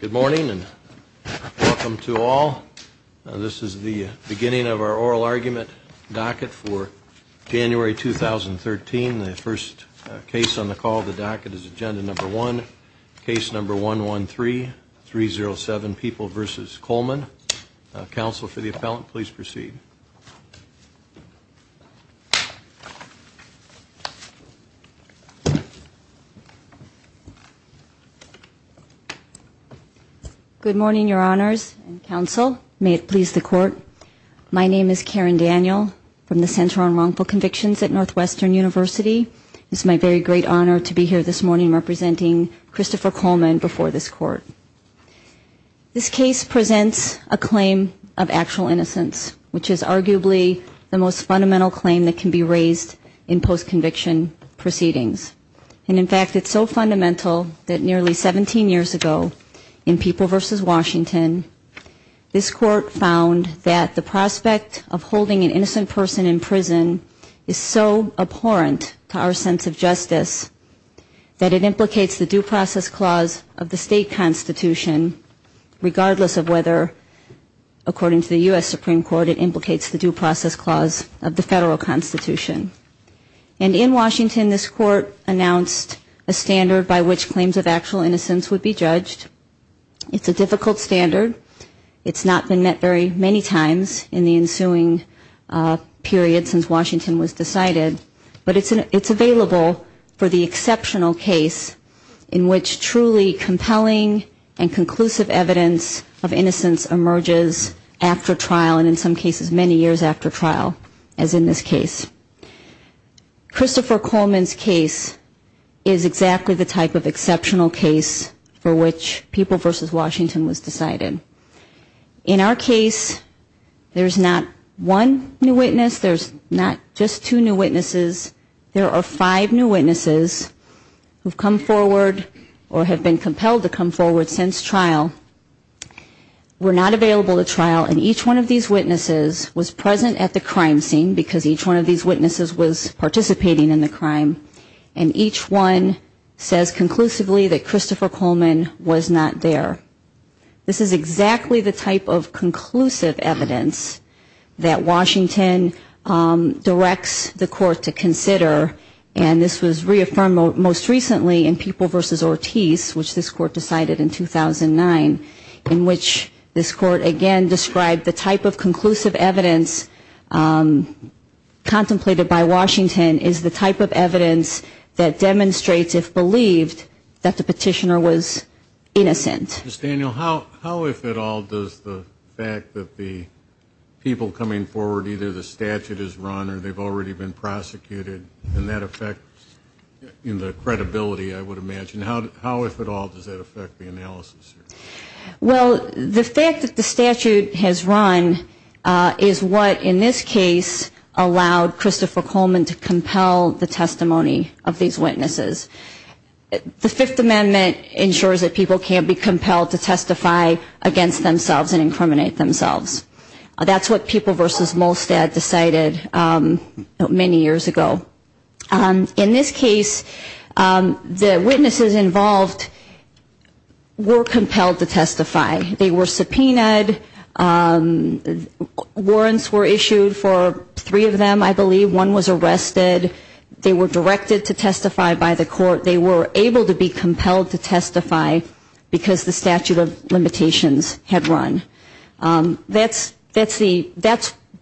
Good morning and welcome to all. This is the beginning of our oral argument docket for January 2013. The first case on the call of the docket is agenda number one, case number 113, 307, People v. Coleman. Counsel for the appellant, please proceed. Good morning, your honors and counsel. May it please the court. My name is Karen Daniel from the Center on Wrongful Convictions at Northwestern University. It's my very great honor to be here this morning representing Christopher Coleman before this court. This case presents a claim of actual innocence, which is arguably the most fundamental claim that can be raised in post-conviction proceedings. And in fact, it's so fundamental that nearly 17 years ago in People v. Washington, this court found that the prospect of holding an innocent person in prison is so abhorrent to our sense of justice, that it implicates the due process clause of the state constitution, regardless of whether, according to the U.S. Supreme Court, it implicates the due process clause of the federal constitution. And in Washington, this court announced a standard by which claims of actual innocence would be judged. It's a difficult standard. It's not been met very many times in the ensuing period since Washington was decided, but it's available for the exceptional case in which truly compelling and conclusive evidence of innocence emerges after trial and in some cases many years after trial, as in this case. Christopher Coleman's case is exactly the type of exceptional case for which People v. Washington was decided. In our case, there's not one new witness, there's not just two new witnesses, there are five new witnesses who have come forward or have been compelled to come forward since trial, were not available to trial, and each one of these witnesses was present at the crime scene, because each one of these witnesses was present at the crime scene. And each one says conclusively that Christopher Coleman was not there. This is exactly the type of conclusive evidence that Washington directs the court to consider and this was reaffirmed most recently in People v. Ortiz, which this court decided in 2009, in which this court again described the type of conclusive evidence contemplated by Washington. And this is exactly the type of conclusive evidence that Washington directs the court to consider and this was reaffirmed most recently in People v. Ortiz, which this court declared in 2009, in which this court declared the type of conclusive evidence contemplated by Washington. the testimony of these witnesses. The Fifth Amendment ensures that people can't be compelled to testify against themselves and incriminate themselves. That's what People v. Molstad decided many years ago. In this case, the witnesses involved were compelled to testify. They were subpoenaed, warrants were arrested. They were directed to testify by the court. They were able to be compelled to testify because the statute of limitations had run. That's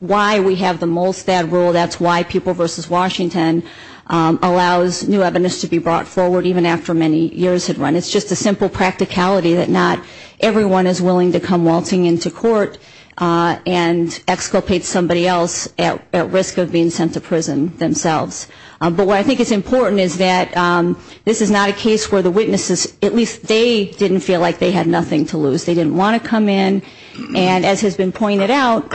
why we have the Molstad rule. That's why People v. Washington allows new evidence to be brought forward even after many years had run. It's just a simple practicality that not everyone is willing to come waltzing into court and exculpate somebody else at risk of being sent to prison than themselves. But what I think is important is that this is not a case where the witnesses, at least they didn't feel like they had nothing to lose. They didn't want to come in and as has been pointed out,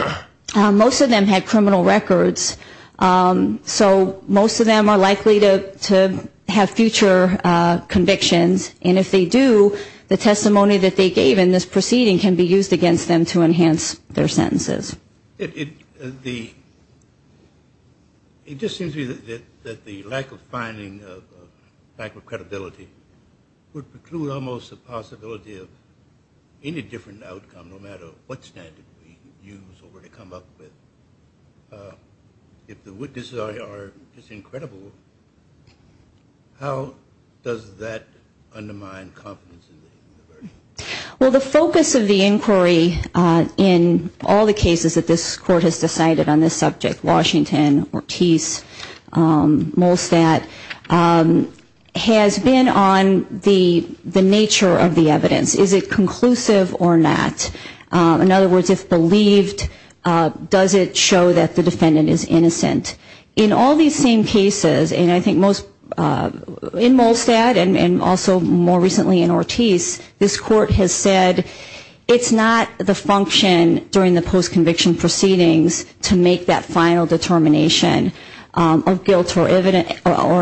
most of them had criminal records. So most of them are likely to have future convictions. And if they do, the testimony that they gave in this proceeding can be used against them to enhance their sentences. It just seems to me that the lack of finding, lack of credibility, would preclude almost the possibility of any different outcome no matter what standard we use or come up with. If the witnesses are just incredible, how does that undermine confidence in the verdict? Well, the focus of the inquiry in all the cases that this Court has decided on this subject, Washington, Ortiz, Molstad, has been on the nature of the evidence. Is it conclusive or not? In other words, if believed, does it show that the defendant is innocent? In all these same cases, and I think in Molstad and also more recently in Ortiz, this Court has decided that the defendant is innocent. This Court has said it's not the function during the post-conviction proceedings to make that final determination of guilt or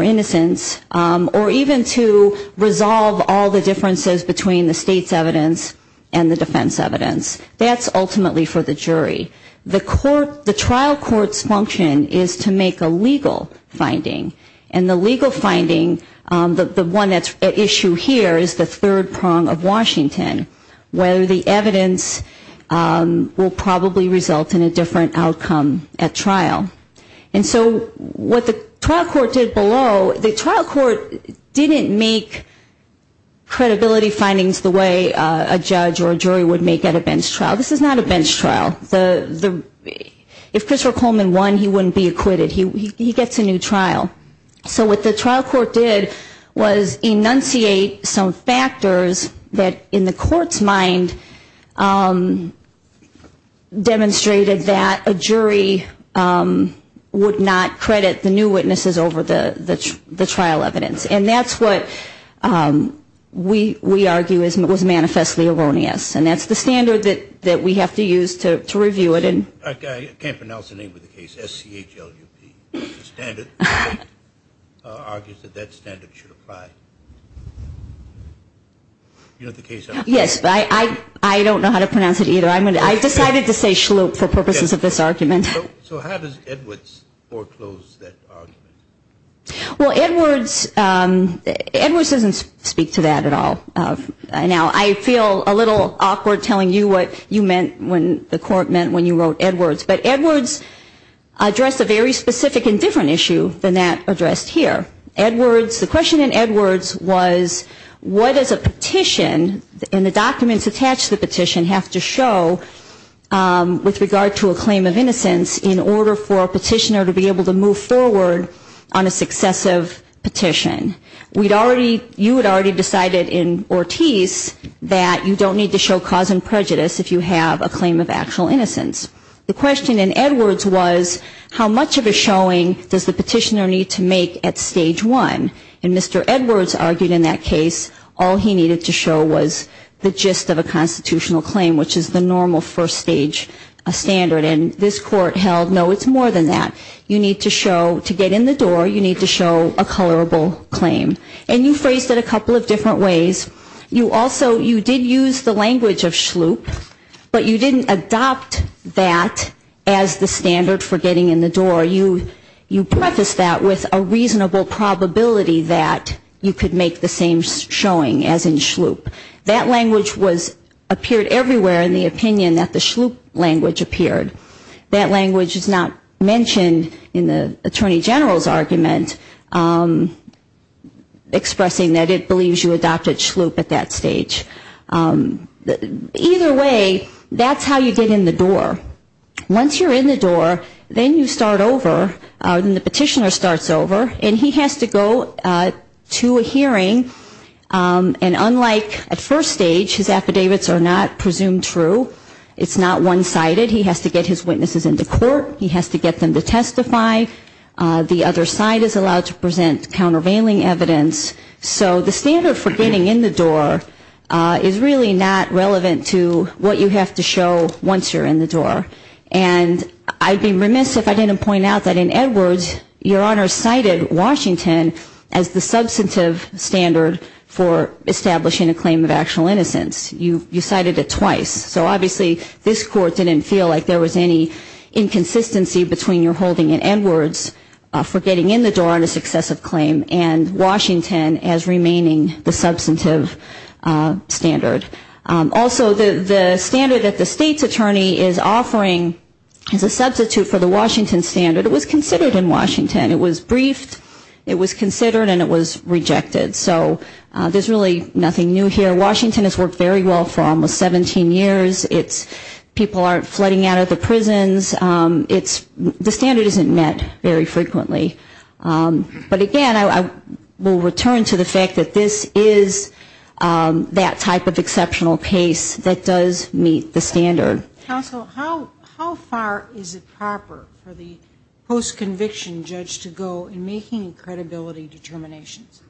innocence or even to resolve all the differences between the state's evidence and the defense evidence. That's ultimately for the jury. The trial court's function is to make a legal finding. And the legal finding, the one at issue here is the third prong of Washington, whether the evidence will probably result in a different outcome at trial. And so what the trial court did below, the trial court didn't make credibility findings the way a judge or a jury would make at a bench trial. This is not a bench trial. If Christopher Coleman won, he wouldn't be acquitted. He gets a new trial. So what the trial court did was enunciate some factors that in the court's mind demonstrated that a jury would not credit the new witnesses over the trial evidence. And that's what we argue was manifestly erroneous. And that's the standard that we have to use to review it. I can't pronounce the name of the case, S-C-H-L-U-P. The standard argues that that standard should apply. Yes, I don't know how to pronounce it either. I decided to say schloop for purposes of this argument. So how does Edwards foreclose that argument? Well, Edwards doesn't speak to that at all. Now, I feel a little awkward telling you what you meant when the court meant when you wrote that argument. But Edwards addressed a very specific and different issue than that addressed here. Edwards, the question in Edwards was what does a petition and the documents attached to the petition have to show with regard to a claim of innocence in order for a petitioner to be able to move forward on a successive petition. You had already decided in Ortiz that you don't need to show cause and prejudice if you have a claim of actual innocence. The question in Edwards was how much of a showing does the petitioner need to make at stage one. And Mr. Edwards argued in that case all he needed to show was the gist of a constitutional claim, which is the normal first stage standard. And this court held no, it's more than that. You need to show, to get in the door, you need to show a colorable claim. And you phrased it a couple of different ways. You also, you did use the language of SHLOOP, but you didn't adopt that as the standard for getting in the door. You prefaced that with a reasonable probability that you could make the same showing as in SHLOOP. That language appeared everywhere in the opinion that the SHLOOP language appeared. That language is not mentioned in the Attorney General's argument expressing that it believes you adopted SHLOOP. Either way, that's how you get in the door. Once you're in the door, then you start over, and the petitioner starts over, and he has to go to a hearing. And unlike at first stage, his affidavits are not presumed true. It's not one-sided. He has to get his witnesses into court. He has to get them to testify. The other side is allowed to present countervailing evidence. So the standard for getting in the door is really not relevant to what you have to show once you're in the door. And I'd be remiss if I didn't point out that in Edwards, Your Honor cited Washington as the substantive standard for establishing a claim of actual innocence. You cited it twice. So obviously, this Court didn't feel like there was any inconsistency between your holding in Edwards and your holding in Washington. So I'm going to leave it at Edwards for getting in the door on a successive claim and Washington as remaining the substantive standard. Also, the standard that the state's attorney is offering is a substitute for the Washington standard. It was considered in Washington. It was briefed, it was considered, and it was rejected. So there's really nothing new here. Washington has worked very well for almost 17 years. People aren't flooding out of the prisons. The standard isn't met very frequently. But again, I will return to the fact that this is that type of exceptional case that does meet the standard. Counsel, how far is it proper for the post-conviction judge to go in making credibility determinations?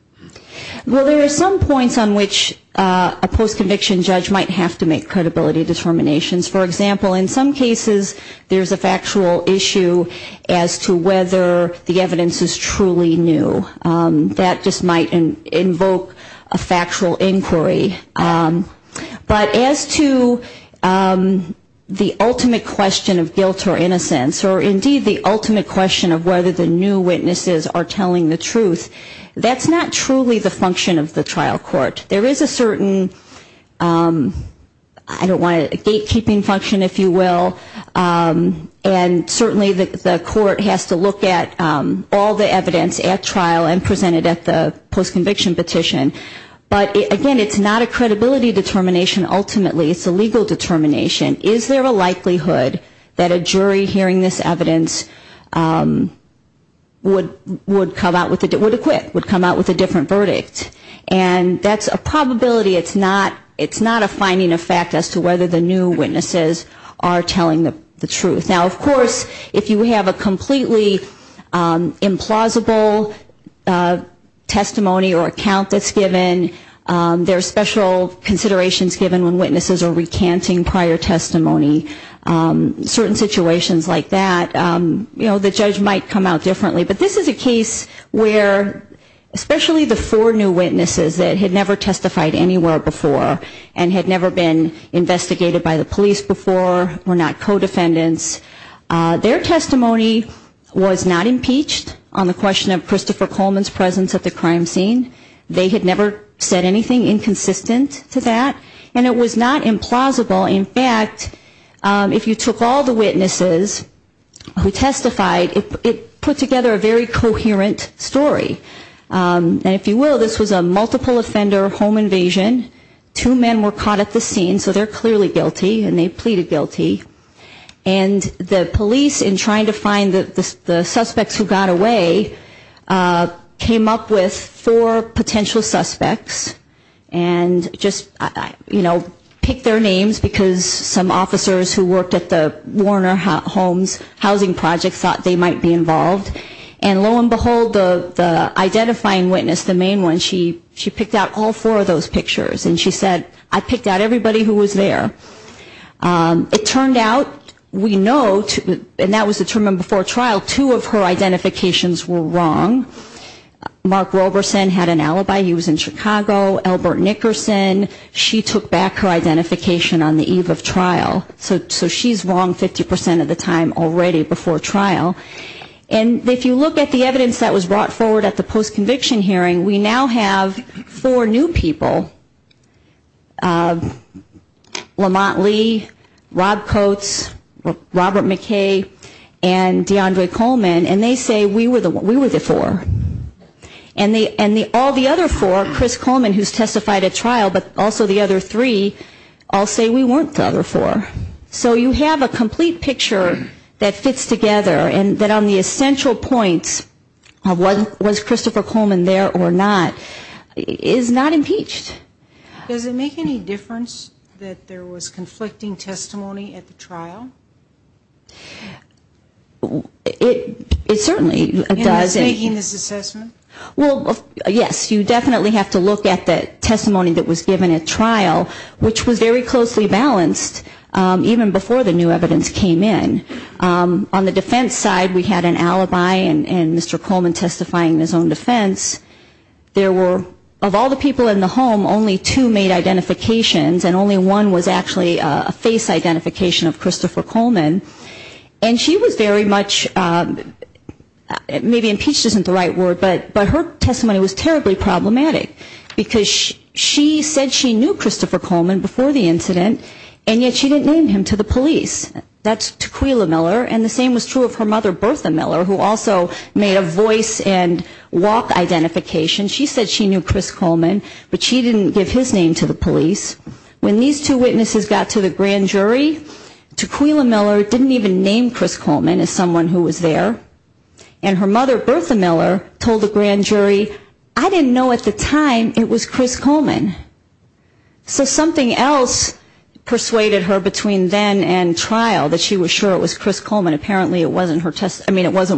Well, there are some points on which a post-conviction judge might have to make credibility determinations. For example, in some cases there's a factual issue as to whether the evidence is truly new. That just might invoke a factual inquiry. But as to the ultimate question of guilt or innocence, or indeed the ultimate question of whether the new witnesses are telling the truth, that's not a question. That's not truly the function of the trial court. There is a certain, I don't want to, gatekeeping function, if you will. And certainly the court has to look at all the evidence at trial and present it at the post-conviction petition. But again, it's not a credibility determination, ultimately. It's a legal determination. Is there a likelihood that a jury hearing this evidence would come out with a quip, would come out with a quip? That's a different verdict. And that's a probability. It's not a finding of fact as to whether the new witnesses are telling the truth. Now, of course, if you have a completely implausible testimony or account that's given, there are special considerations given when witnesses are recanting prior testimony. Certain situations like that, you know, the judge might come out differently. But this is a case where especially the four new witnesses that had never testified anywhere before and had never been investigated by the police before, were not co-defendants. Their testimony was not impeached on the question of Christopher Coleman's presence at the crime scene. They had never said anything inconsistent to that. And it was not implausible. In fact, if you took all the witnesses who testified, it put together a very coherent story. And if you will, this was a multiple offender home invasion. Two men were caught at the scene, so they're clearly guilty and they pleaded guilty. And the police, in trying to find the suspects who got away, came up with four potential suspects. And just, you know, picked their names, because some officers who worked at the Warner Homes housing project thought they might be involved. And lo and behold, the identifying witness, the main one, she picked out all four of those pictures. And she said, I picked out everybody who was there. It turned out, we know, and that was determined before trial, two of her identifications were wrong. Mark Roberson had an alibi, he was in Chicago. Albert Nickerson, she took back her identification on the eve of trial. So she's wrong 50% of the time already before trial. And if you look at the evidence that was brought forward at the post-conviction hearing, we now have four new people, Lamont Lee, Rob Coates, Robert McKay, and DeAndre Coleman, and they say we were the four. And all the other four, Chris Coleman, who's testified at trial, but also the other three, all say we weren't the other four. So you have a complete picture that fits together, and that on the essential points of was Christopher Coleman there or not, is not impeached. Does it make any difference that there was conflicting testimony at the trial? It certainly does. And it's making this assessment? Well, yes, you definitely have to look at the testimony that was given at trial, which was very closely balanced, even before the new evidence came in. On the defense side, we had an alibi and Mr. Coleman testifying in his own defense. There were, of all the people in the home, only two made identifications, and only one was actually a face identification of Christopher Coleman. And she was very much, maybe impeached isn't the right word, but her testimony was terribly problematic, because she said she knew Christopher Coleman before the incident, and yet she didn't name him to the police. That's Taquilla Miller, and the same was true of her mother, Bertha Miller, who also made a voice and walk identification. She said she knew Chris Coleman, but she didn't give his name to the police. When these two witnesses got to the grand jury, Taquilla Miller didn't even name Chris Coleman as someone who was there. And her mother, Bertha Miller, told the grand jury, I didn't know at the time it was Chris Coleman. So something else persuaded her between then and trial that she was sure it was Chris Coleman. Apparently it wasn't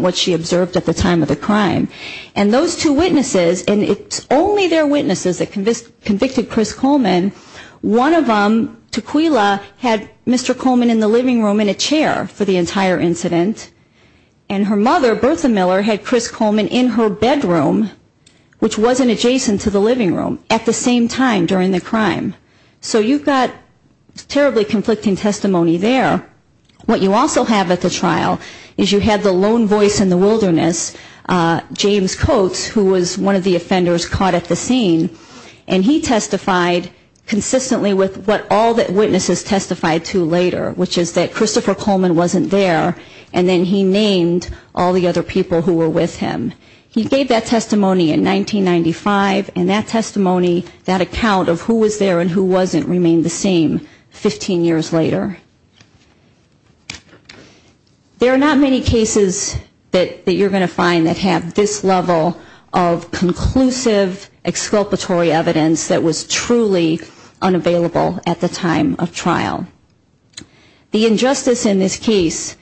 what she observed at the time of the crime. And those two witnesses, and it's only their witnesses that convicted Chris Coleman, one of them, Taquilla, had Mr. Coleman in the living room in a chair for the entire incident, and her mother, Bertha Miller, had Chris Coleman in her bedroom, which wasn't adjacent to the living room, at the same time during the crime. So you've got terribly conflicting testimony there. What you also have at the trial is you have the lone voice in the wilderness, James Coates, who was one of the offenders caught at the scene, and he testified consistently with what all the witnesses testified to later, which is that Christopher Coleman wasn't there, and then he named all the other people who were with him. He gave that testimony in 1995, and that testimony, that account of who was there and who wasn't remained the same 15 years later. There are not many cases that you're going to find that have this level of conclusive exculpatory evidence that was truly unavailable at the time of trial. The injustice in this case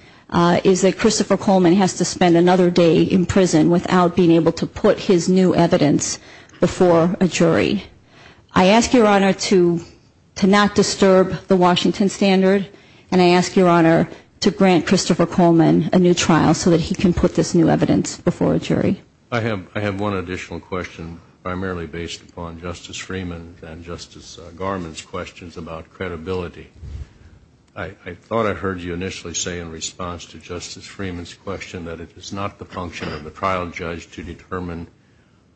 is that Christopher Coleman has to spend another day in prison without being able to put his new evidence before a jury. I ask Your Honor to not disturb the Washington Standard, and I ask Your Honor to grant Christopher Coleman a new trial so that he can put this new evidence before a jury. I have one additional question primarily based upon Justice Freeman and Justice Garmon's questions about credibility. I thought I heard you initially say in response to Justice Freeman's question that it is not the function of the trial judge to determine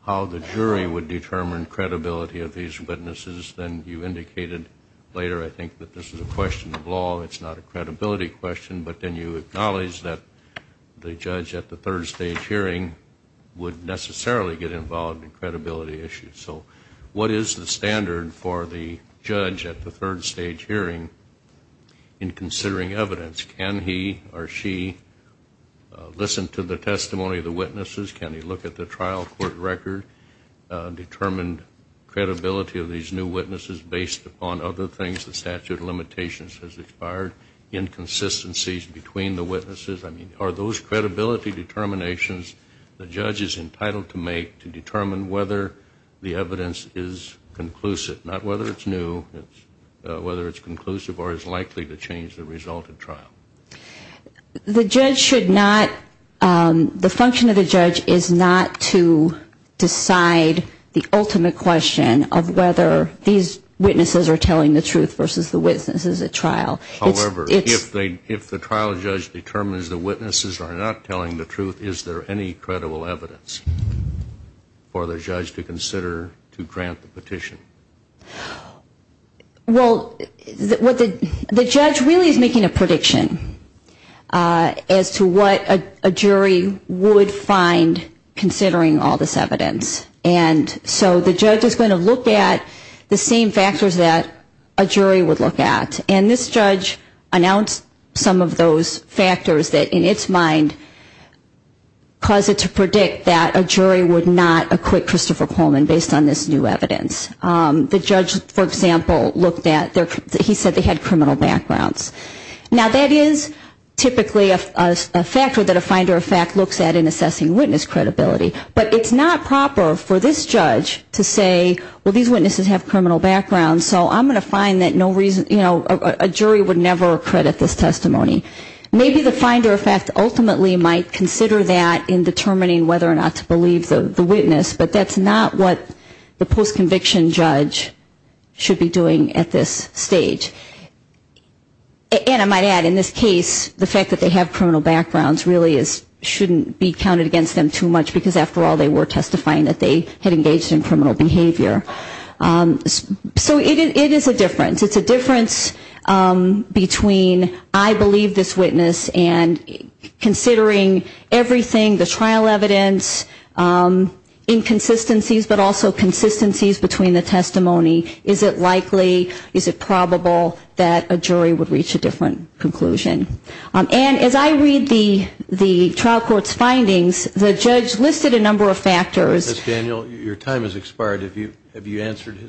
how the jury would determine credibility of these witnesses. Then you indicated later, I think, that this is a question of law, it's not a credibility question, but then you acknowledged that the judge at the third stage hearing would necessarily get involved in credibility issues. So what is the standard for the judge at the third stage hearing in considering evidence? Can he or she listen to the testimony of the witnesses? Can he look at the trial court record, determine credibility of these new witnesses based upon other things? The statute of limitations has expired, inconsistencies between the witnesses. I mean, are those credibility determinations the judge is entitled to make to determine whether the evidence is conclusive? Not whether it's new, whether it's conclusive or is likely to change the result of trial? The judge should not, the function of the judge is not to decide the ultimate question of whether these witnesses are telling the truth versus the witnesses at trial. However, if the trial judge determines the witnesses are not telling the truth, is there any credible evidence for the judge to consider to grant the petition? Well, the judge really is making a prediction as to what a jury would find considering all this evidence. And so the judge is going to look at the same factors that a jury would look at. And this judge announced some of those factors that in its mind cause it to predict that a jury would not acquit Christopher to evidence. The judge, for example, looked at, he said they had criminal backgrounds. Now, that is typically a factor that a finder of fact looks at in assessing witness credibility. But it's not proper for this judge to say, well, these witnesses have criminal backgrounds, so I'm going to find that no reason, you know, a jury would never credit this testimony. Maybe the finder of fact ultimately might consider that in determining whether or not to believe the witness, but that's not what the post-conviction judge should be doing at this stage. And I might add, in this case, the fact that they have criminal backgrounds really shouldn't be counted against them too much, because after all, they were testifying that they had engaged in criminal behavior. So it is a difference. It's a difference between I believe this witness and considering everything, the trial evidence, inconsistencies, but also consistencies between the testimony, is it likely, is it probable that a jury would reach a different conclusion. And as I read the trial court's findings, the judge listed a number of factors. And I'm not going to go into the details of those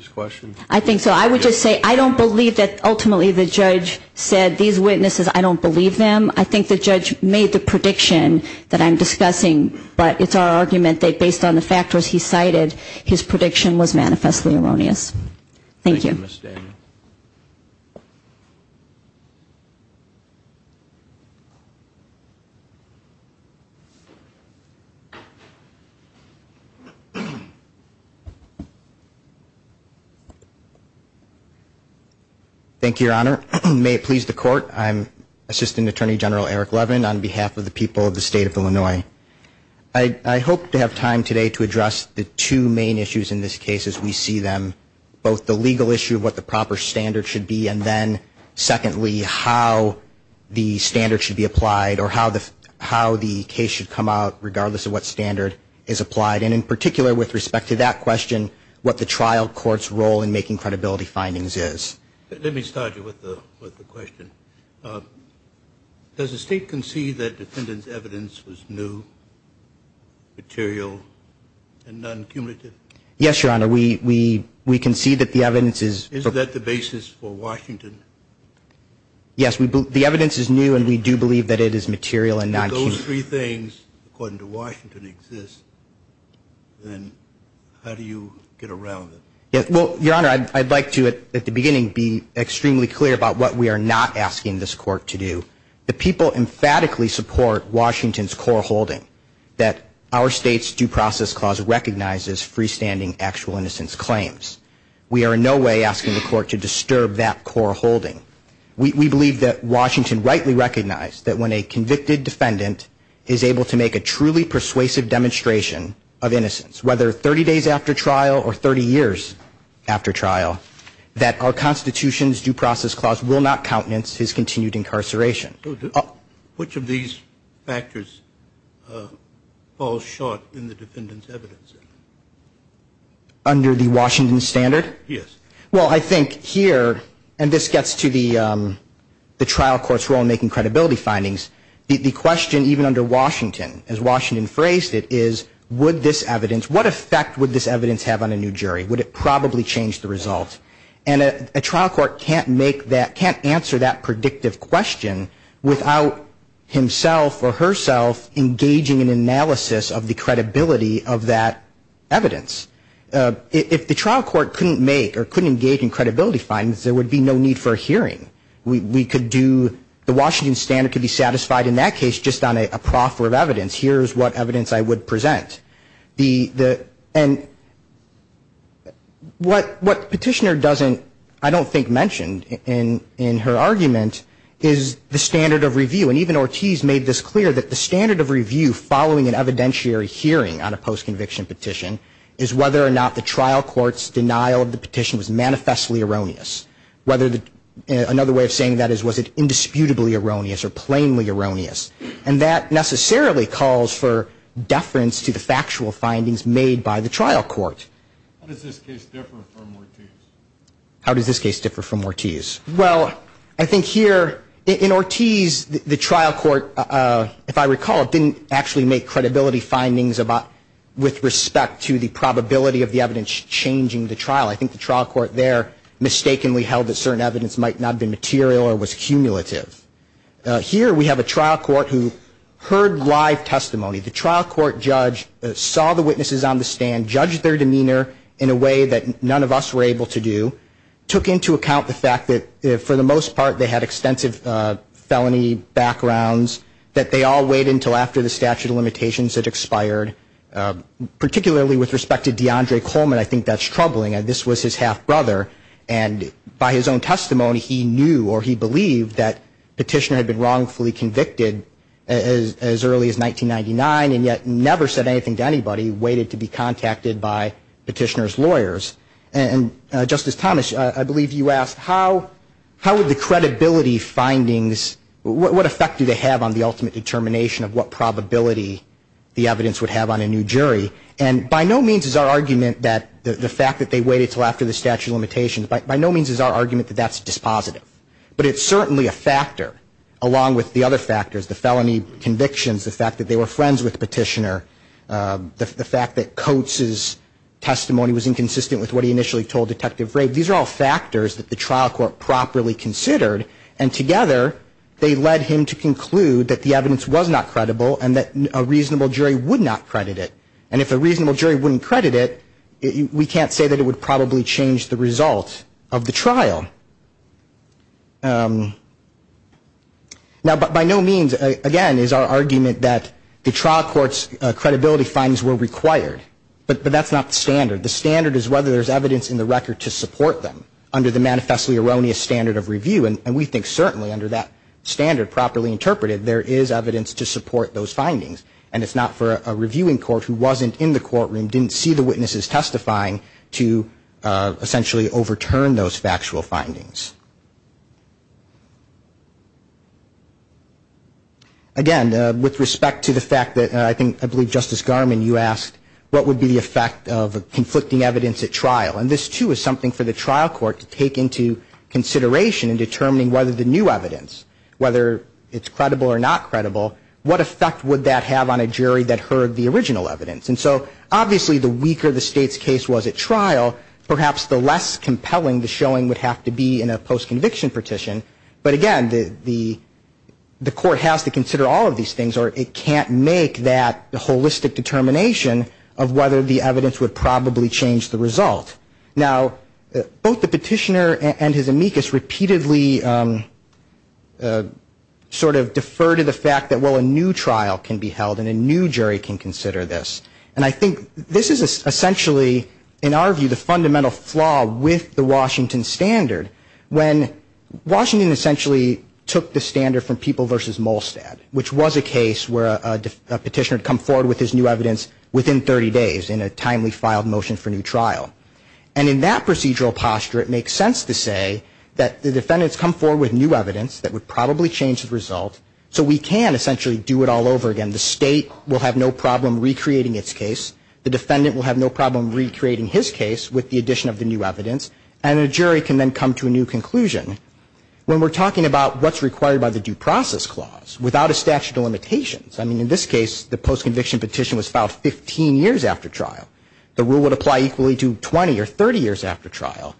factors. I'm just going to say I don't believe that ultimately the judge said these witnesses, I don't believe them. I think the judge made the prediction that I'm discussing, but it's our argument that based on the factors he cited, his prediction was manifestly erroneous. Thank you. Thank you, Your Honor. May it please the court. I'm Assistant Attorney General Eric Levin on behalf of the people of the state of Illinois. I hope to have time today to address the two main issues in this case as we see them, both the legal issue of what the proper standard should be, and then secondly, how the standard should be applied or how the case should come out, regardless of what the trial court's role in making credibility findings is. Let me start you with the question. Does the state concede that defendant's evidence was new, material, and non-cumulative? Yes, Your Honor. We concede that the evidence is. Is that the basis for Washington? Yes, the evidence is new, and we do believe that it is material and non-cumulative. If those three things, according to Washington, exist, then how do you get around it? Well, Your Honor, I'd like to at the beginning be extremely clear about what we are not asking this court to do. The people emphatically support Washington's core holding that our state's due process clause recognizes freestanding actual innocence claims. We are in no way asking the court to disturb that core holding. We believe that Washington rightly recognized that when a convicted defendant is able to make a truly persuasive demonstration of innocence, whether 30 days after trial or 30 years after trial, that our Constitution's due process clause will not countenance his continued incarceration. Which of these factors falls short in the defendant's evidence? Under the Washington standard? Yes. Well, I think here, and this gets to the trial court's role in making credibility findings, the question even under Washington, as Washington said, can't answer that predictive question without himself or herself engaging in analysis of the credibility of that evidence. If the trial court couldn't make or couldn't engage in credibility findings, there would be no need for a hearing. We could do, the Washington standard could be satisfied in that case just on a proffer of evidence. Here is what evidence I would present. And what Petitioner doesn't, I don't think, mention in her argument is the standard of review. And even Ortiz made this clear, that the standard of review following an evidentiary hearing on a post-conviction petition is whether or not the trial court's denial of the petition was manifestly erroneous. Another way of saying that is was it indisputably erroneous or plainly erroneous. And that necessarily calls for deference to the factual findings made by the trial court. How does this case differ from Ortiz? Well, I think here, in Ortiz, the trial court, if I recall, didn't actually make credibility findings with respect to the probability of the evidence changing the trial. I think the trial court there mistakenly held that certain evidence might not have been material or was cumulative. Here we have a trial court who heard live testimony. The trial court judge saw the witnesses on the stand, judged their demeanor in a way that none of us were able to do, took into account the fact that for the most part they had extensive felony backgrounds, that they all waited until after the statute of limitations had expired. Particularly with respect to DeAndre Coleman, I think that's troubling. This was his half-brother. And by his own testimony, he knew or he believed that Petitioner had been wrongfully convicted as early as 1999 and yet never said anything to anybody, waited to be contacted by Petitioner's lawyers. And, Justice Thomas, I believe you asked how would the credibility findings, what effect do they have on the ultimate determination of what probability the evidence would have on a new jury? And by no means is our argument that the fact that they waited until after the statute of limitations, by no means is our argument that that's dispositive. But it's certainly a factor, along with the other factors, the felony convictions, the fact that they were friends with Petitioner, the fact that Coates' testimony was inconsistent with what he initially told Detective Rabe. These are all factors that the trial court properly considered, and together they led him to conclude that the evidence was not credible and that a reasonable jury would not credit it. And if a reasonable jury wouldn't credit it, we can't say that it would probably change the result of the trial. Now, by no means, again, is our argument that the trial court's credibility findings were required. But that's not the standard. The standard is whether there's evidence in the record to support them under the manifestly erroneous standard of review. And we think certainly under that standard, properly interpreted, there is evidence to support those findings. And it's not for a reviewing court who wasn't in the courtroom, didn't see the witnesses testifying, to essentially overturn those factual findings. Again, with respect to the fact that, I think, I believe, Justice Garmon, you asked, what would be the effect of conflicting evidence at trial? And this, too, is something for the trial court to take into consideration in determining whether the new evidence, whether it's credible or not credible, what effect would that have on a jury that heard the original evidence? And so, obviously, the weaker the State's case was at trial, perhaps the less compelling the showing would have to be in a post-conviction petition. But again, the court has to consider all of these things, or it can't make that holistic determination of whether the evidence would probably change the result. Now, both the petitioner and his amicus repeatedly sort of defer to the fact that, well, a new trial can be held, and a new jury can consider this. And I think this is essentially, in our view, the fundamental flaw with the Washington standard. When Washington essentially took the standard from People v. Molstad, which was a case where a petitioner had come forward with his new evidence within 30 days, in a timely filed motion for new trial. And in that procedural posture, it makes sense to say that the defendants come forward with new evidence that would probably change the result, so we can essentially do it all over again. The State will have no problem recreating its case, the defendant will have no problem recreating his case with the addition of the new evidence, and a jury can then come to a new conclusion. When we're talking about what's required by the Due Process Clause, without a statute of limitations, I mean, in this case, the post-conviction petition was filed 15 years after trial. The rule would apply equally to 20 or 30 years after trial.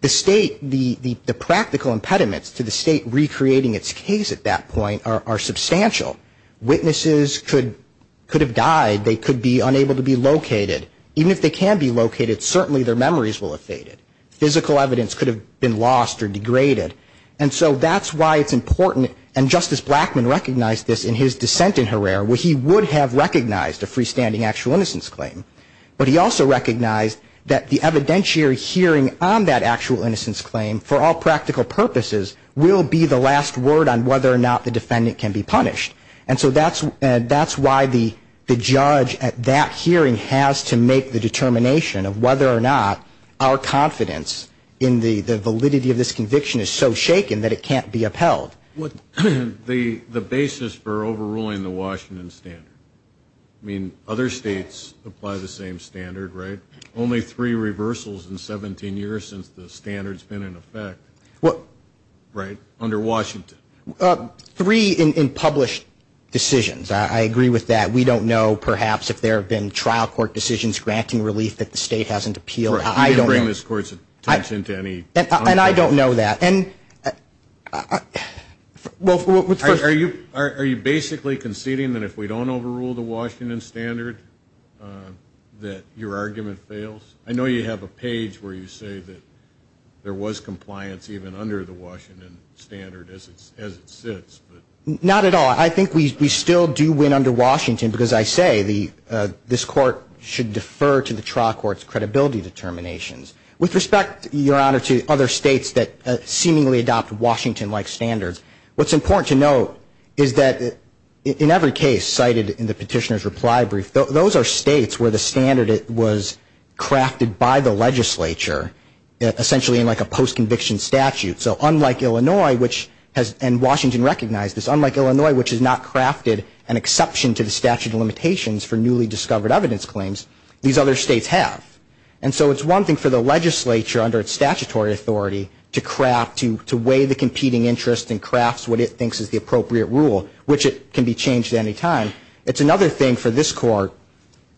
The State, the practical impediments to the State recreating its case at that point are substantial. Witnesses could have died, they could be unable to be located. Even if they can be located, certainly their memories will have faded. Physical evidence could have been lost or degraded. And so that's why it's important, and Justice Blackmun recognized this in his dissent in Herrera, where he would have recognized a freestanding actual innocence claim. But he also recognized that the evidentiary hearing on that actual innocence claim, for all practical purposes, will be the last word on whether or not the defendant can be punished. And so that's why the judge at that hearing has to make the determination of whether or not our confidence in the validity of this conviction is so shaken that it can't be upheld. The basis for overruling the Washington Standard. I mean, other states apply the same standard, right? Only three reversals in 17 years since the standard's been in effect, right, under Washington. Three in published decisions. I agree with that. We don't know, perhaps, if there have been trial court decisions granting relief that the State hasn't appealed. I don't know. Are you basically conceding that if we don't overrule the Washington Standard that your argument fails? I know you have a page where you say that there was compliance even under the Washington Standard as it sits. Not at all. I think we still do win under Washington, because I say this court should defer to the trial court's credibility determinations. With respect, Your Honor, to other states that seemingly adopt Washington-like standards, what's important to note is that in every case cited in the petitioner's reply brief, those are states where the standard was crafted by the legislature, essentially in like a post-conviction statute. So unlike Illinois, which has, and Washington recognized this, unlike Illinois, which has not crafted an exception to the statute of limitations for newly discovered evidence claims, these other states have. And so it's one thing for the legislature, under its statutory authority, to craft, to weigh the competing interest and crafts what it thinks is the appropriate rule, which it can be changed at any time. It's another thing for this court,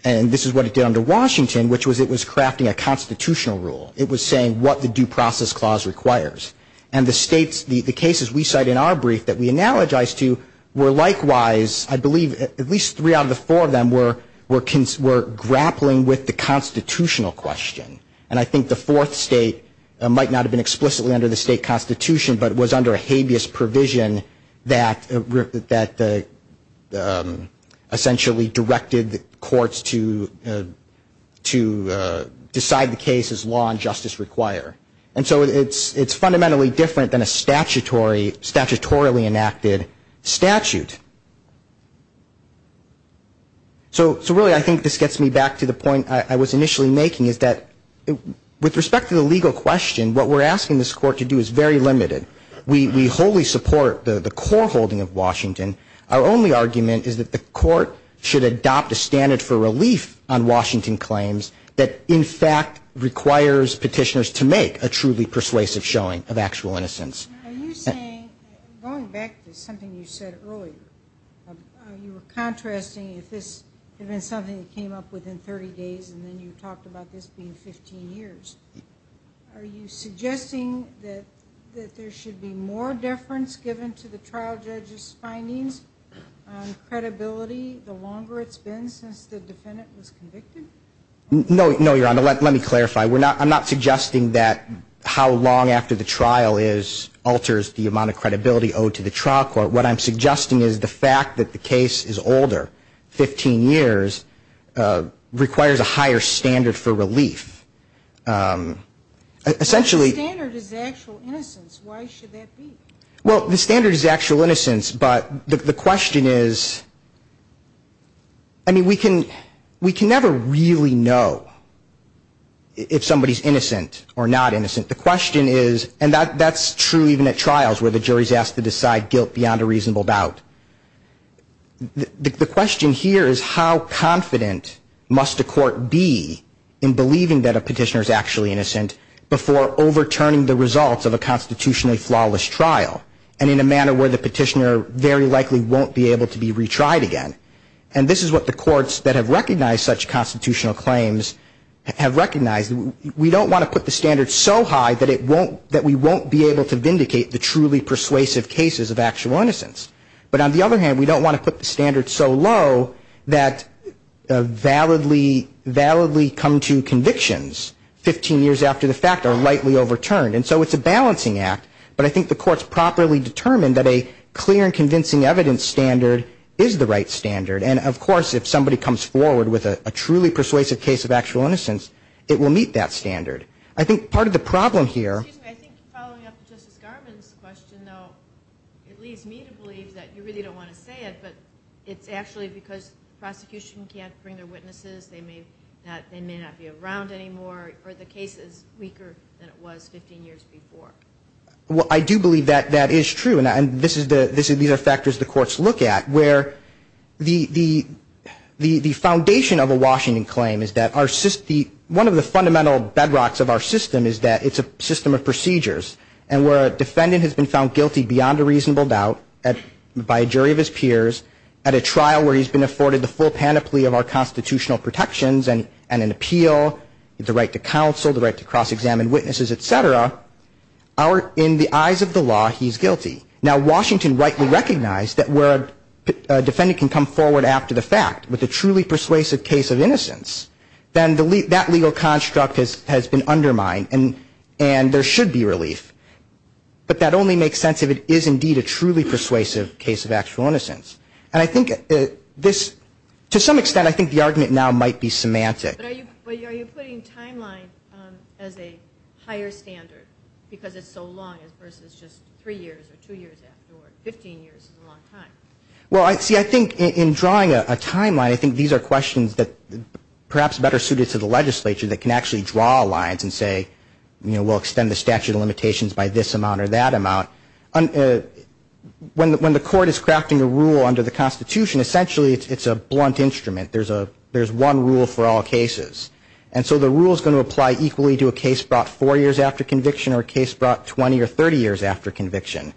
and this is what it did under Washington, which was it was crafting a constitutional rule. It was saying what the due process clause requires. And the states, the cases we cite in our brief that we analogize to were likewise, I believe at least three out of the four of them were grappling with the constitutional question. And I think the fourth state might not have been explicitly under the state constitution, but was under a habeas provision that essentially directed courts to decide the cases law and justice require. And so it's fundamentally different than a statutorily enacted statute. So really, I think this gets me back to the point I was initially making, is that with respect to the legal question, what we're asking this court to do is very limited. We wholly support the core holding of Washington. Our only argument is that the court should adopt a standard for relief on Washington claims that, in fact, requires petitioners to make a truly persuasive showing of actual innocence. Going back to something you said earlier, you were contrasting if this had been something that came up within 30 days, and then you talked about this being 15 years. Are you suggesting that there should be more deference given to the trial judge's findings on credibility the longer it's been since the defendant was convicted? No, Your Honor, let me clarify. I'm not suggesting that how long after the trial alters the amount of credibility owed to the trial court. What I'm suggesting is the fact that the case is older, 15 years, requires a higher standard for relief. But the standard is actual innocence. Why should that be? Well, the standard is actual innocence, but the question is, I mean, we can never really know if somebody's innocent or not innocent. The question is, and that's true even at trials where the jury's asked to decide guilt beyond a reasonable doubt. The question here is how confident must a court be in believing that a petitioner is actually innocent before overturning the results of a constitutionally flawless trial, and in a manner where the petitioner very likely won't be able to be retried again. And this is what the courts that have recognized such constitutional claims have recognized. We don't want to put the standard so high that we won't be able to vindicate the truly persuasive cases of actual innocence. But on the other hand, we don't want to put the standard so low that validly come to convictions 15 years after the fact are lightly overturned, and so it's a balancing act. But I think the court's properly determined that a clear and convincing evidence standard is the right standard. And of course, if somebody comes forward with a truly persuasive case of actual innocence, it will meet that standard. I think part of the problem here... Excuse me, I think following up Justice Garmon's question, though, it leads me to believe that you really don't want to say it, but it's actually because the prosecution can't bring their witnesses, they may not be around anymore, or the case is weaker than it was 15 years before. Well, I do believe that that is true, and these are factors the courts look at, where the foundation of a Washington claim is that one of the fundamental bedrocks of our system is that it's a system of procedures, and where a defendant has been found guilty beyond a reasonable doubt by a jury of his peers at a trial where he's been afforded the full panoply of our constitutional protections and an appeal, the right to counsel, the right to cross-examine witnesses, et cetera, in the eyes of the law, he's guilty. Now, Washington rightly recognized that where a defendant can come forward after the fact with a truly persuasive case of innocence, then that legal construct has been undermined, and there should be relief. But that only makes sense if it is indeed a truly persuasive case of actual innocence. And I think this, to some extent, I think the argument now might be semantic. But are you putting timeline as a higher standard, because it's so long, versus just three years or two years after, or 15 years is a long time? Well, see, I think in drawing a timeline, I think these are questions that perhaps are better suited to the legislature that can actually draw lines and say, you know, we'll extend the statute of limitations by this amount or that amount. When the court is crafting a rule under the Constitution, essentially it's a blunt instrument. There's one rule for all cases. And so the rule is going to apply equally to a case brought four years after conviction or a case brought 20 or 30 years after conviction.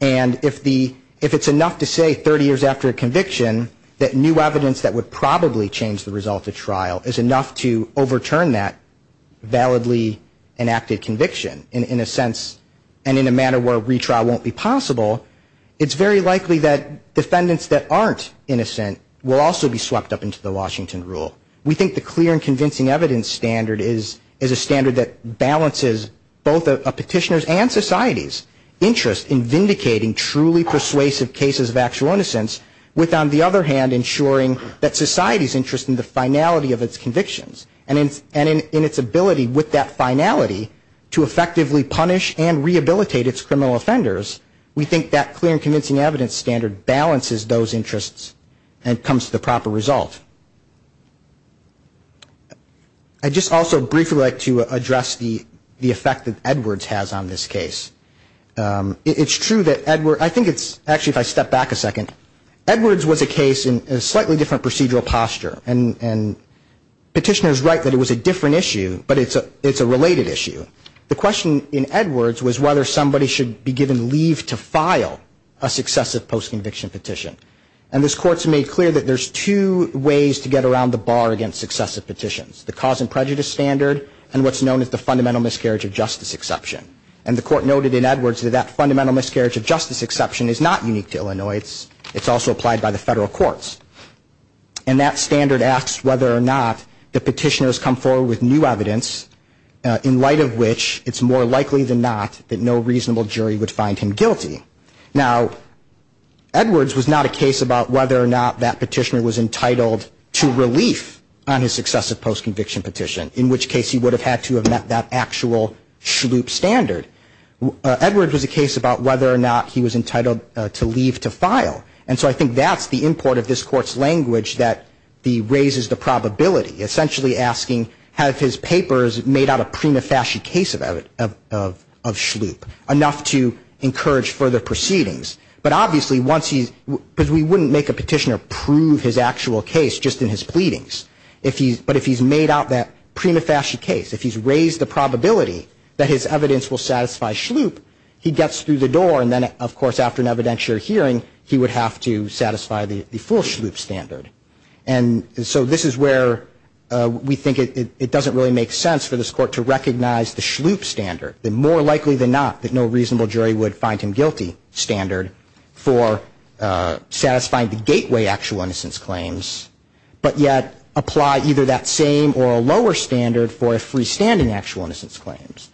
And if it's enough to say 30 years after conviction that new evidence that would probably change the result of trial is enough to overturn that validly enacted conviction, in a sense, and in a manner where retrial won't be possible, it's very likely that defendants that aren't innocent will also be swept up into the Washington rule. We think the clear and convincing evidence standard is a standard that balances both a petitioner's and society's interest in vindicating truly persuasive cases of actual innocence with, on the other hand, ensuring that society's interest in the finality of its convictions. And in its ability with that finality to effectively punish and rehabilitate its criminal offenders, we think that clear and convincing evidence standard balances those interests and comes to the proper result. I'd just also briefly like to address the effect that Edwards has on this case. It's true that Edwards, I think it's, actually if I step back a second, Edwards was a case in a slightly different procedural posture. And petitioners write that it was a different issue, but it's a related issue. The question in Edwards was whether somebody should be given leave to file a successive post-conviction petition. And this Court's made clear that there's two ways to get around the bar against successive petitions. The cause and prejudice standard and what's known as the fundamental miscarriage of justice exception. And the Court noted in Edwards that that fundamental miscarriage of justice exception is not unique to Illinois. It's also applied by the federal courts. And that standard asks whether or not the petitioners come forward with new evidence in light of which it's more likely than not that no reasonable jury would find him guilty. Now, Edwards was not a case about whether or not that petitioner was entitled to relief on his successive post-conviction petition, in which case he would have had to have met that actual SHLUIP standard. Edwards was a case about whether or not he was entitled to leave to file. And so I think that's the import of this Court's language that raises the probability, essentially asking, have his papers made out a prima facie case of SHLUIP, enough to encourage further litigation. But obviously once he's, because we wouldn't make a petitioner prove his actual case just in his pleadings. But if he's made out that prima facie case, if he's raised the probability that his evidence will satisfy SHLUIP, he gets through the door and then, of course, after an evidentiary hearing, he would have to satisfy the full SHLUIP standard. And so this is where we think it doesn't really make sense for this Court to recognize the SHLUIP standard, the more likely than not that no reasonable jury would find him guilty standard for satisfying the gateway actual innocence claims, but yet apply either that same or a lower standard for a freestanding actual innocence claims.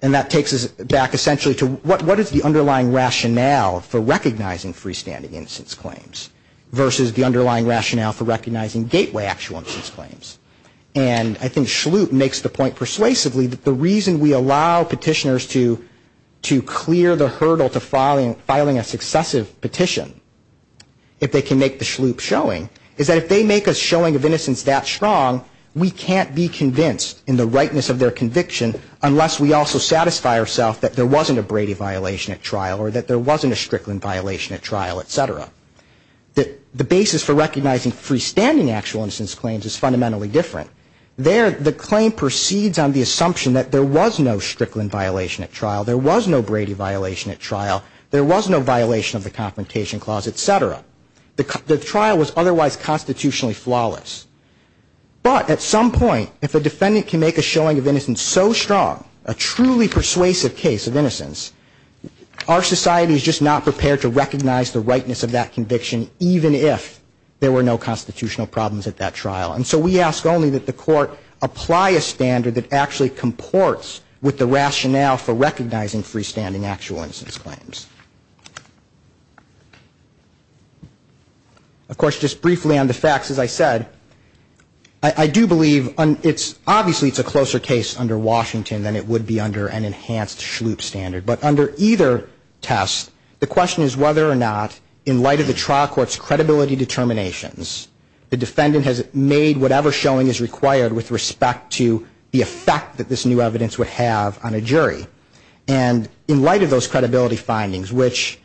And that takes us back essentially to what is the underlying rationale for recognizing freestanding innocence claims versus the underlying rationale for recognizing gateway actual innocence claims. And I think SHLUIP makes the point persuasively that the reason we allow petitioners to clear the hurdle to filing a successive petition, if they can make the SHLUIP showing, is that if they make a showing of innocence that strong, we can't be convinced in the rightness of their conviction unless we also satisfy ourself that there wasn't a Brady violation at trial or that there wasn't a Strickland violation at trial, etc. The basis for recognizing freestanding actual innocence claims is fundamentally different. There the claim proceeds on the assumption that there was no Strickland violation at trial, there was no Brady violation at trial, there was no violation of the Confrontation Clause, etc. The trial was otherwise constitutionally flawless. But at some point, if a defendant can make a showing of innocence so strong, a truly persuasive case of innocence, our society is just not prepared to recognize the rightness of that conviction, even if there were no constitutional problems at that trial. And so we ask only that the court apply a standard that actually comports with the rationale for recognizing freestanding actual innocence claims. Of course, just briefly on the facts, as I said, I do believe it's obviously a closer case under Washington than it would be under an enhanced Schlup standard. But under either test, the question is whether or not, in light of the trial court's credibility determinations, the defendant has made whatever showing is required with respect to the effect that this new evidence would have on a jury. And in light of those credibility findings, which,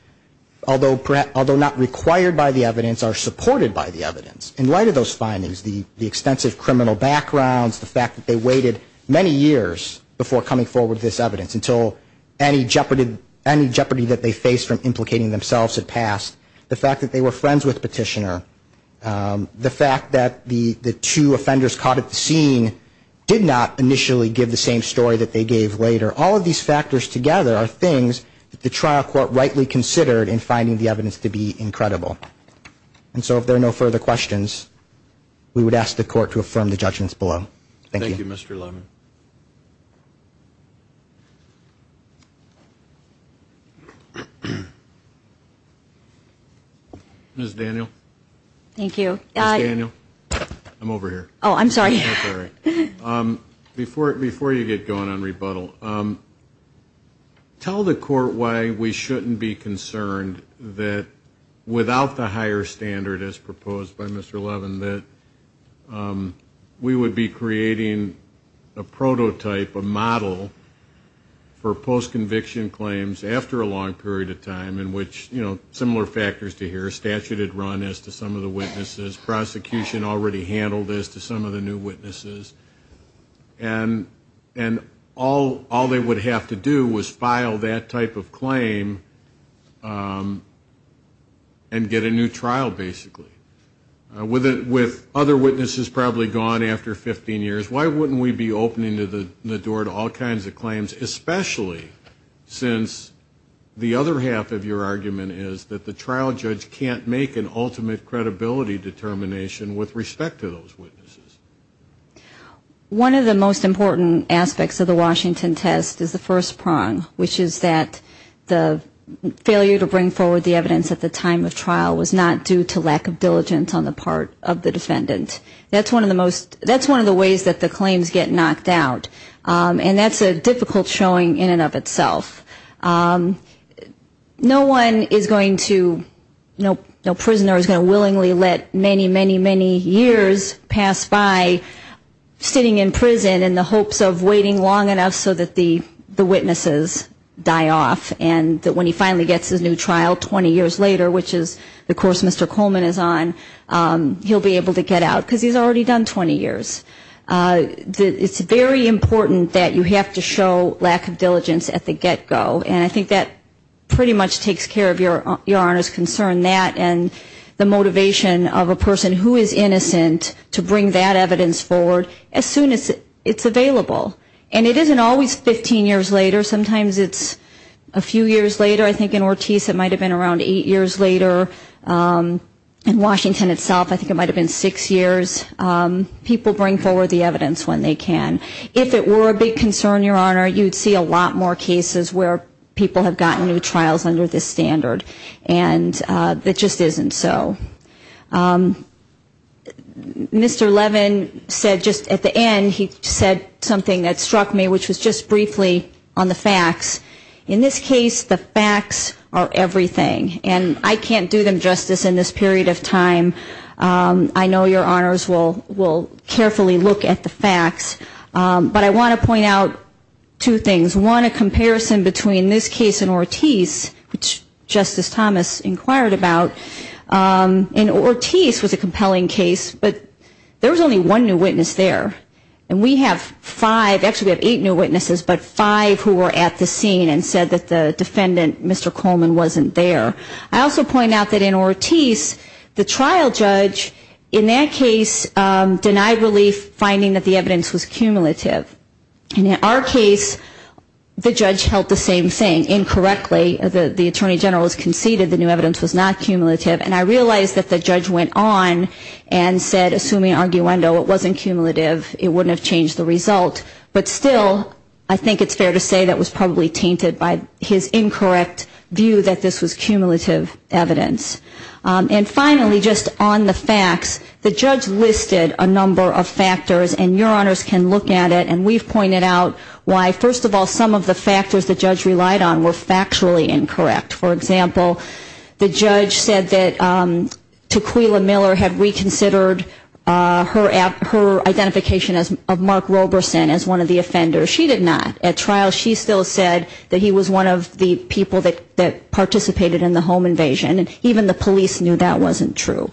although not required by the evidence, are supported by the evidence, in light of those findings, the extensive criminal backgrounds, the fact that they waited many years before coming forward with this evidence until any jeopardy that they faced from implicating themselves had passed, the fact that they were friends with Petitioner, the fact that the two offenders caught at the scene did not initially give the same story that they gave later, all of these factors together are things that the trial court rightly considered in finding the evidence to be incredible. And so if there are no further questions, we would ask the court to affirm the judgments below. Thank you. Thank you, Mr. Lemon. Ms. Daniel? Thank you. Ms. Daniel, I'm over here. Oh, I'm sorry. Before you get going on rebuttal, tell the court why we shouldn't be concerned that without the higher standard as proposed by Mr. Levin that we would be creating a prototype, a model for post-conviction claims after a long period of time in which, you know, similar factors to here, statute had run as to some of the witnesses, prosecution already handled as to some of the new witnesses, and all they would have to do was file that type of claim and get a new trial, basically. With other witnesses probably gone after 15 years, why wouldn't we be opening the door to all kinds of claims, especially since the other half of your argument is that the trial judge can't make an ultimate credibility determination with respect to those witnesses? One of the most important aspects of the Washington test is the first prong, which is that the failure to bring forward the evidence at the time of trial was not due to lack of diligence on the part of the defendant. That's one of the ways that the claims get knocked out. And that's a difficult showing in and of itself. No one is going to, no prisoner is going to willingly let many, many, many years pass by sitting in prison in the hopes of waiting long enough so that the witnesses die off and that when he finally gets his new trial 20 years later, which is the course Mr. Coleman is on, he'll be able to get out, because he's already done 20 years. It's very important that you have to show lack of diligence at the get-go, and I think that pretty much takes care of Your Honor's concern that and the motivation of a person who is innocent to bring that evidence forward as soon as it's available. And it isn't always 15 years later. Sometimes it's a few years later. I think in Ortiz it might have been around eight years later. In Washington itself I think it might have been six years. People bring forward the evidence when they can. If it were a big concern, Your Honor, you'd see a lot more cases where people have gotten new trials under this standard. And it just isn't so. Mr. Levin said just at the end, he said something that struck me, which was just briefly on the facts. In this case the facts are everything, and I can't do them justice in this period of time. I know Your Honors will carefully look at the facts, but I want to point out two things. One, a comparison between this case and Ortiz, which Justice Thomas inquired about. And Ortiz was a compelling case, but there was only one new witness there. And we have five, actually we have eight new witnesses, but five who were at the scene and said that the defendant, Mr. Coleman, wasn't there. I also point out that in Ortiz the trial judge in that case denied relief, finding that the evidence was cumulative. And in our case, the judge held the same thing, incorrectly. The Attorney General has conceded the new evidence was not cumulative. And I realize that the judge went on and said, assuming arguendo, it wasn't cumulative, it wouldn't have changed the result. But still, I think it's fair to say that was probably tainted by his incorrect view that this was cumulative evidence. And finally, just on the facts, the judge listed a number of factors, and Your Honors can look at it and see why, first of all, some of the factors the judge relied on were factually incorrect. For example, the judge said that Tequila Miller had reconsidered her identification of Mark Roberson as one of the offenders. She did not. At trial she still said that he was one of the people that participated in the home invasion. Even the police knew that wasn't true.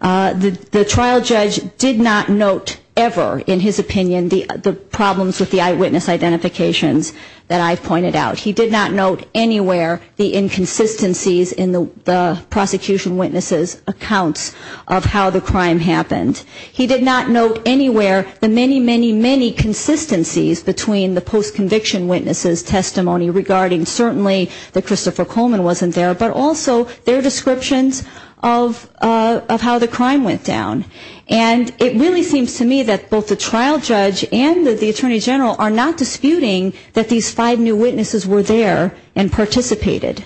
The trial judge did not note ever, in his opinion, the problems with the eyewitness identifications that I've pointed out. He did not note anywhere the inconsistencies in the prosecution witnesses' accounts of how the crime happened. He did not note anywhere the many, many, many consistencies between the post-conviction witnesses' testimony regarding Mark Roberson, certainly that Christopher Coleman wasn't there, but also their descriptions of how the crime went down. And it really seems to me that both the trial judge and the attorney general are not disputing that these five new witnesses were there and participated.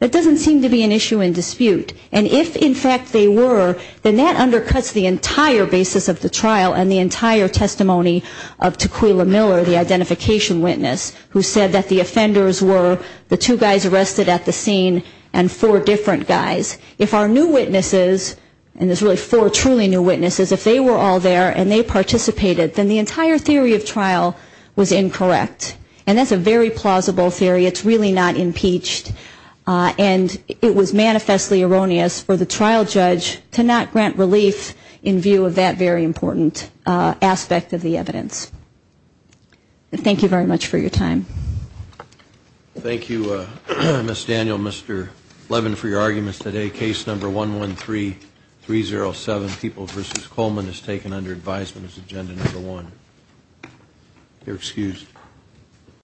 That doesn't seem to be an issue in dispute. And if in fact they were, then that undercuts the entire basis of the trial and the entire testimony of Tequila Miller, the two guys arrested at the scene, and four different guys. If our new witnesses, and there's really four truly new witnesses, if they were all there and they participated, then the entire theory of trial was incorrect. And that's a very plausible theory. It's really not impeached. And it was manifestly erroneous for the trial judge to not grant relief in view of that very important aspect of the evidence. Thank you very much for your time. Thank you, Ms. Daniel, Mr. Levin, for your arguments today. Case number 113307, People v. Coleman, is taken under advisement as agenda number one. You're excused.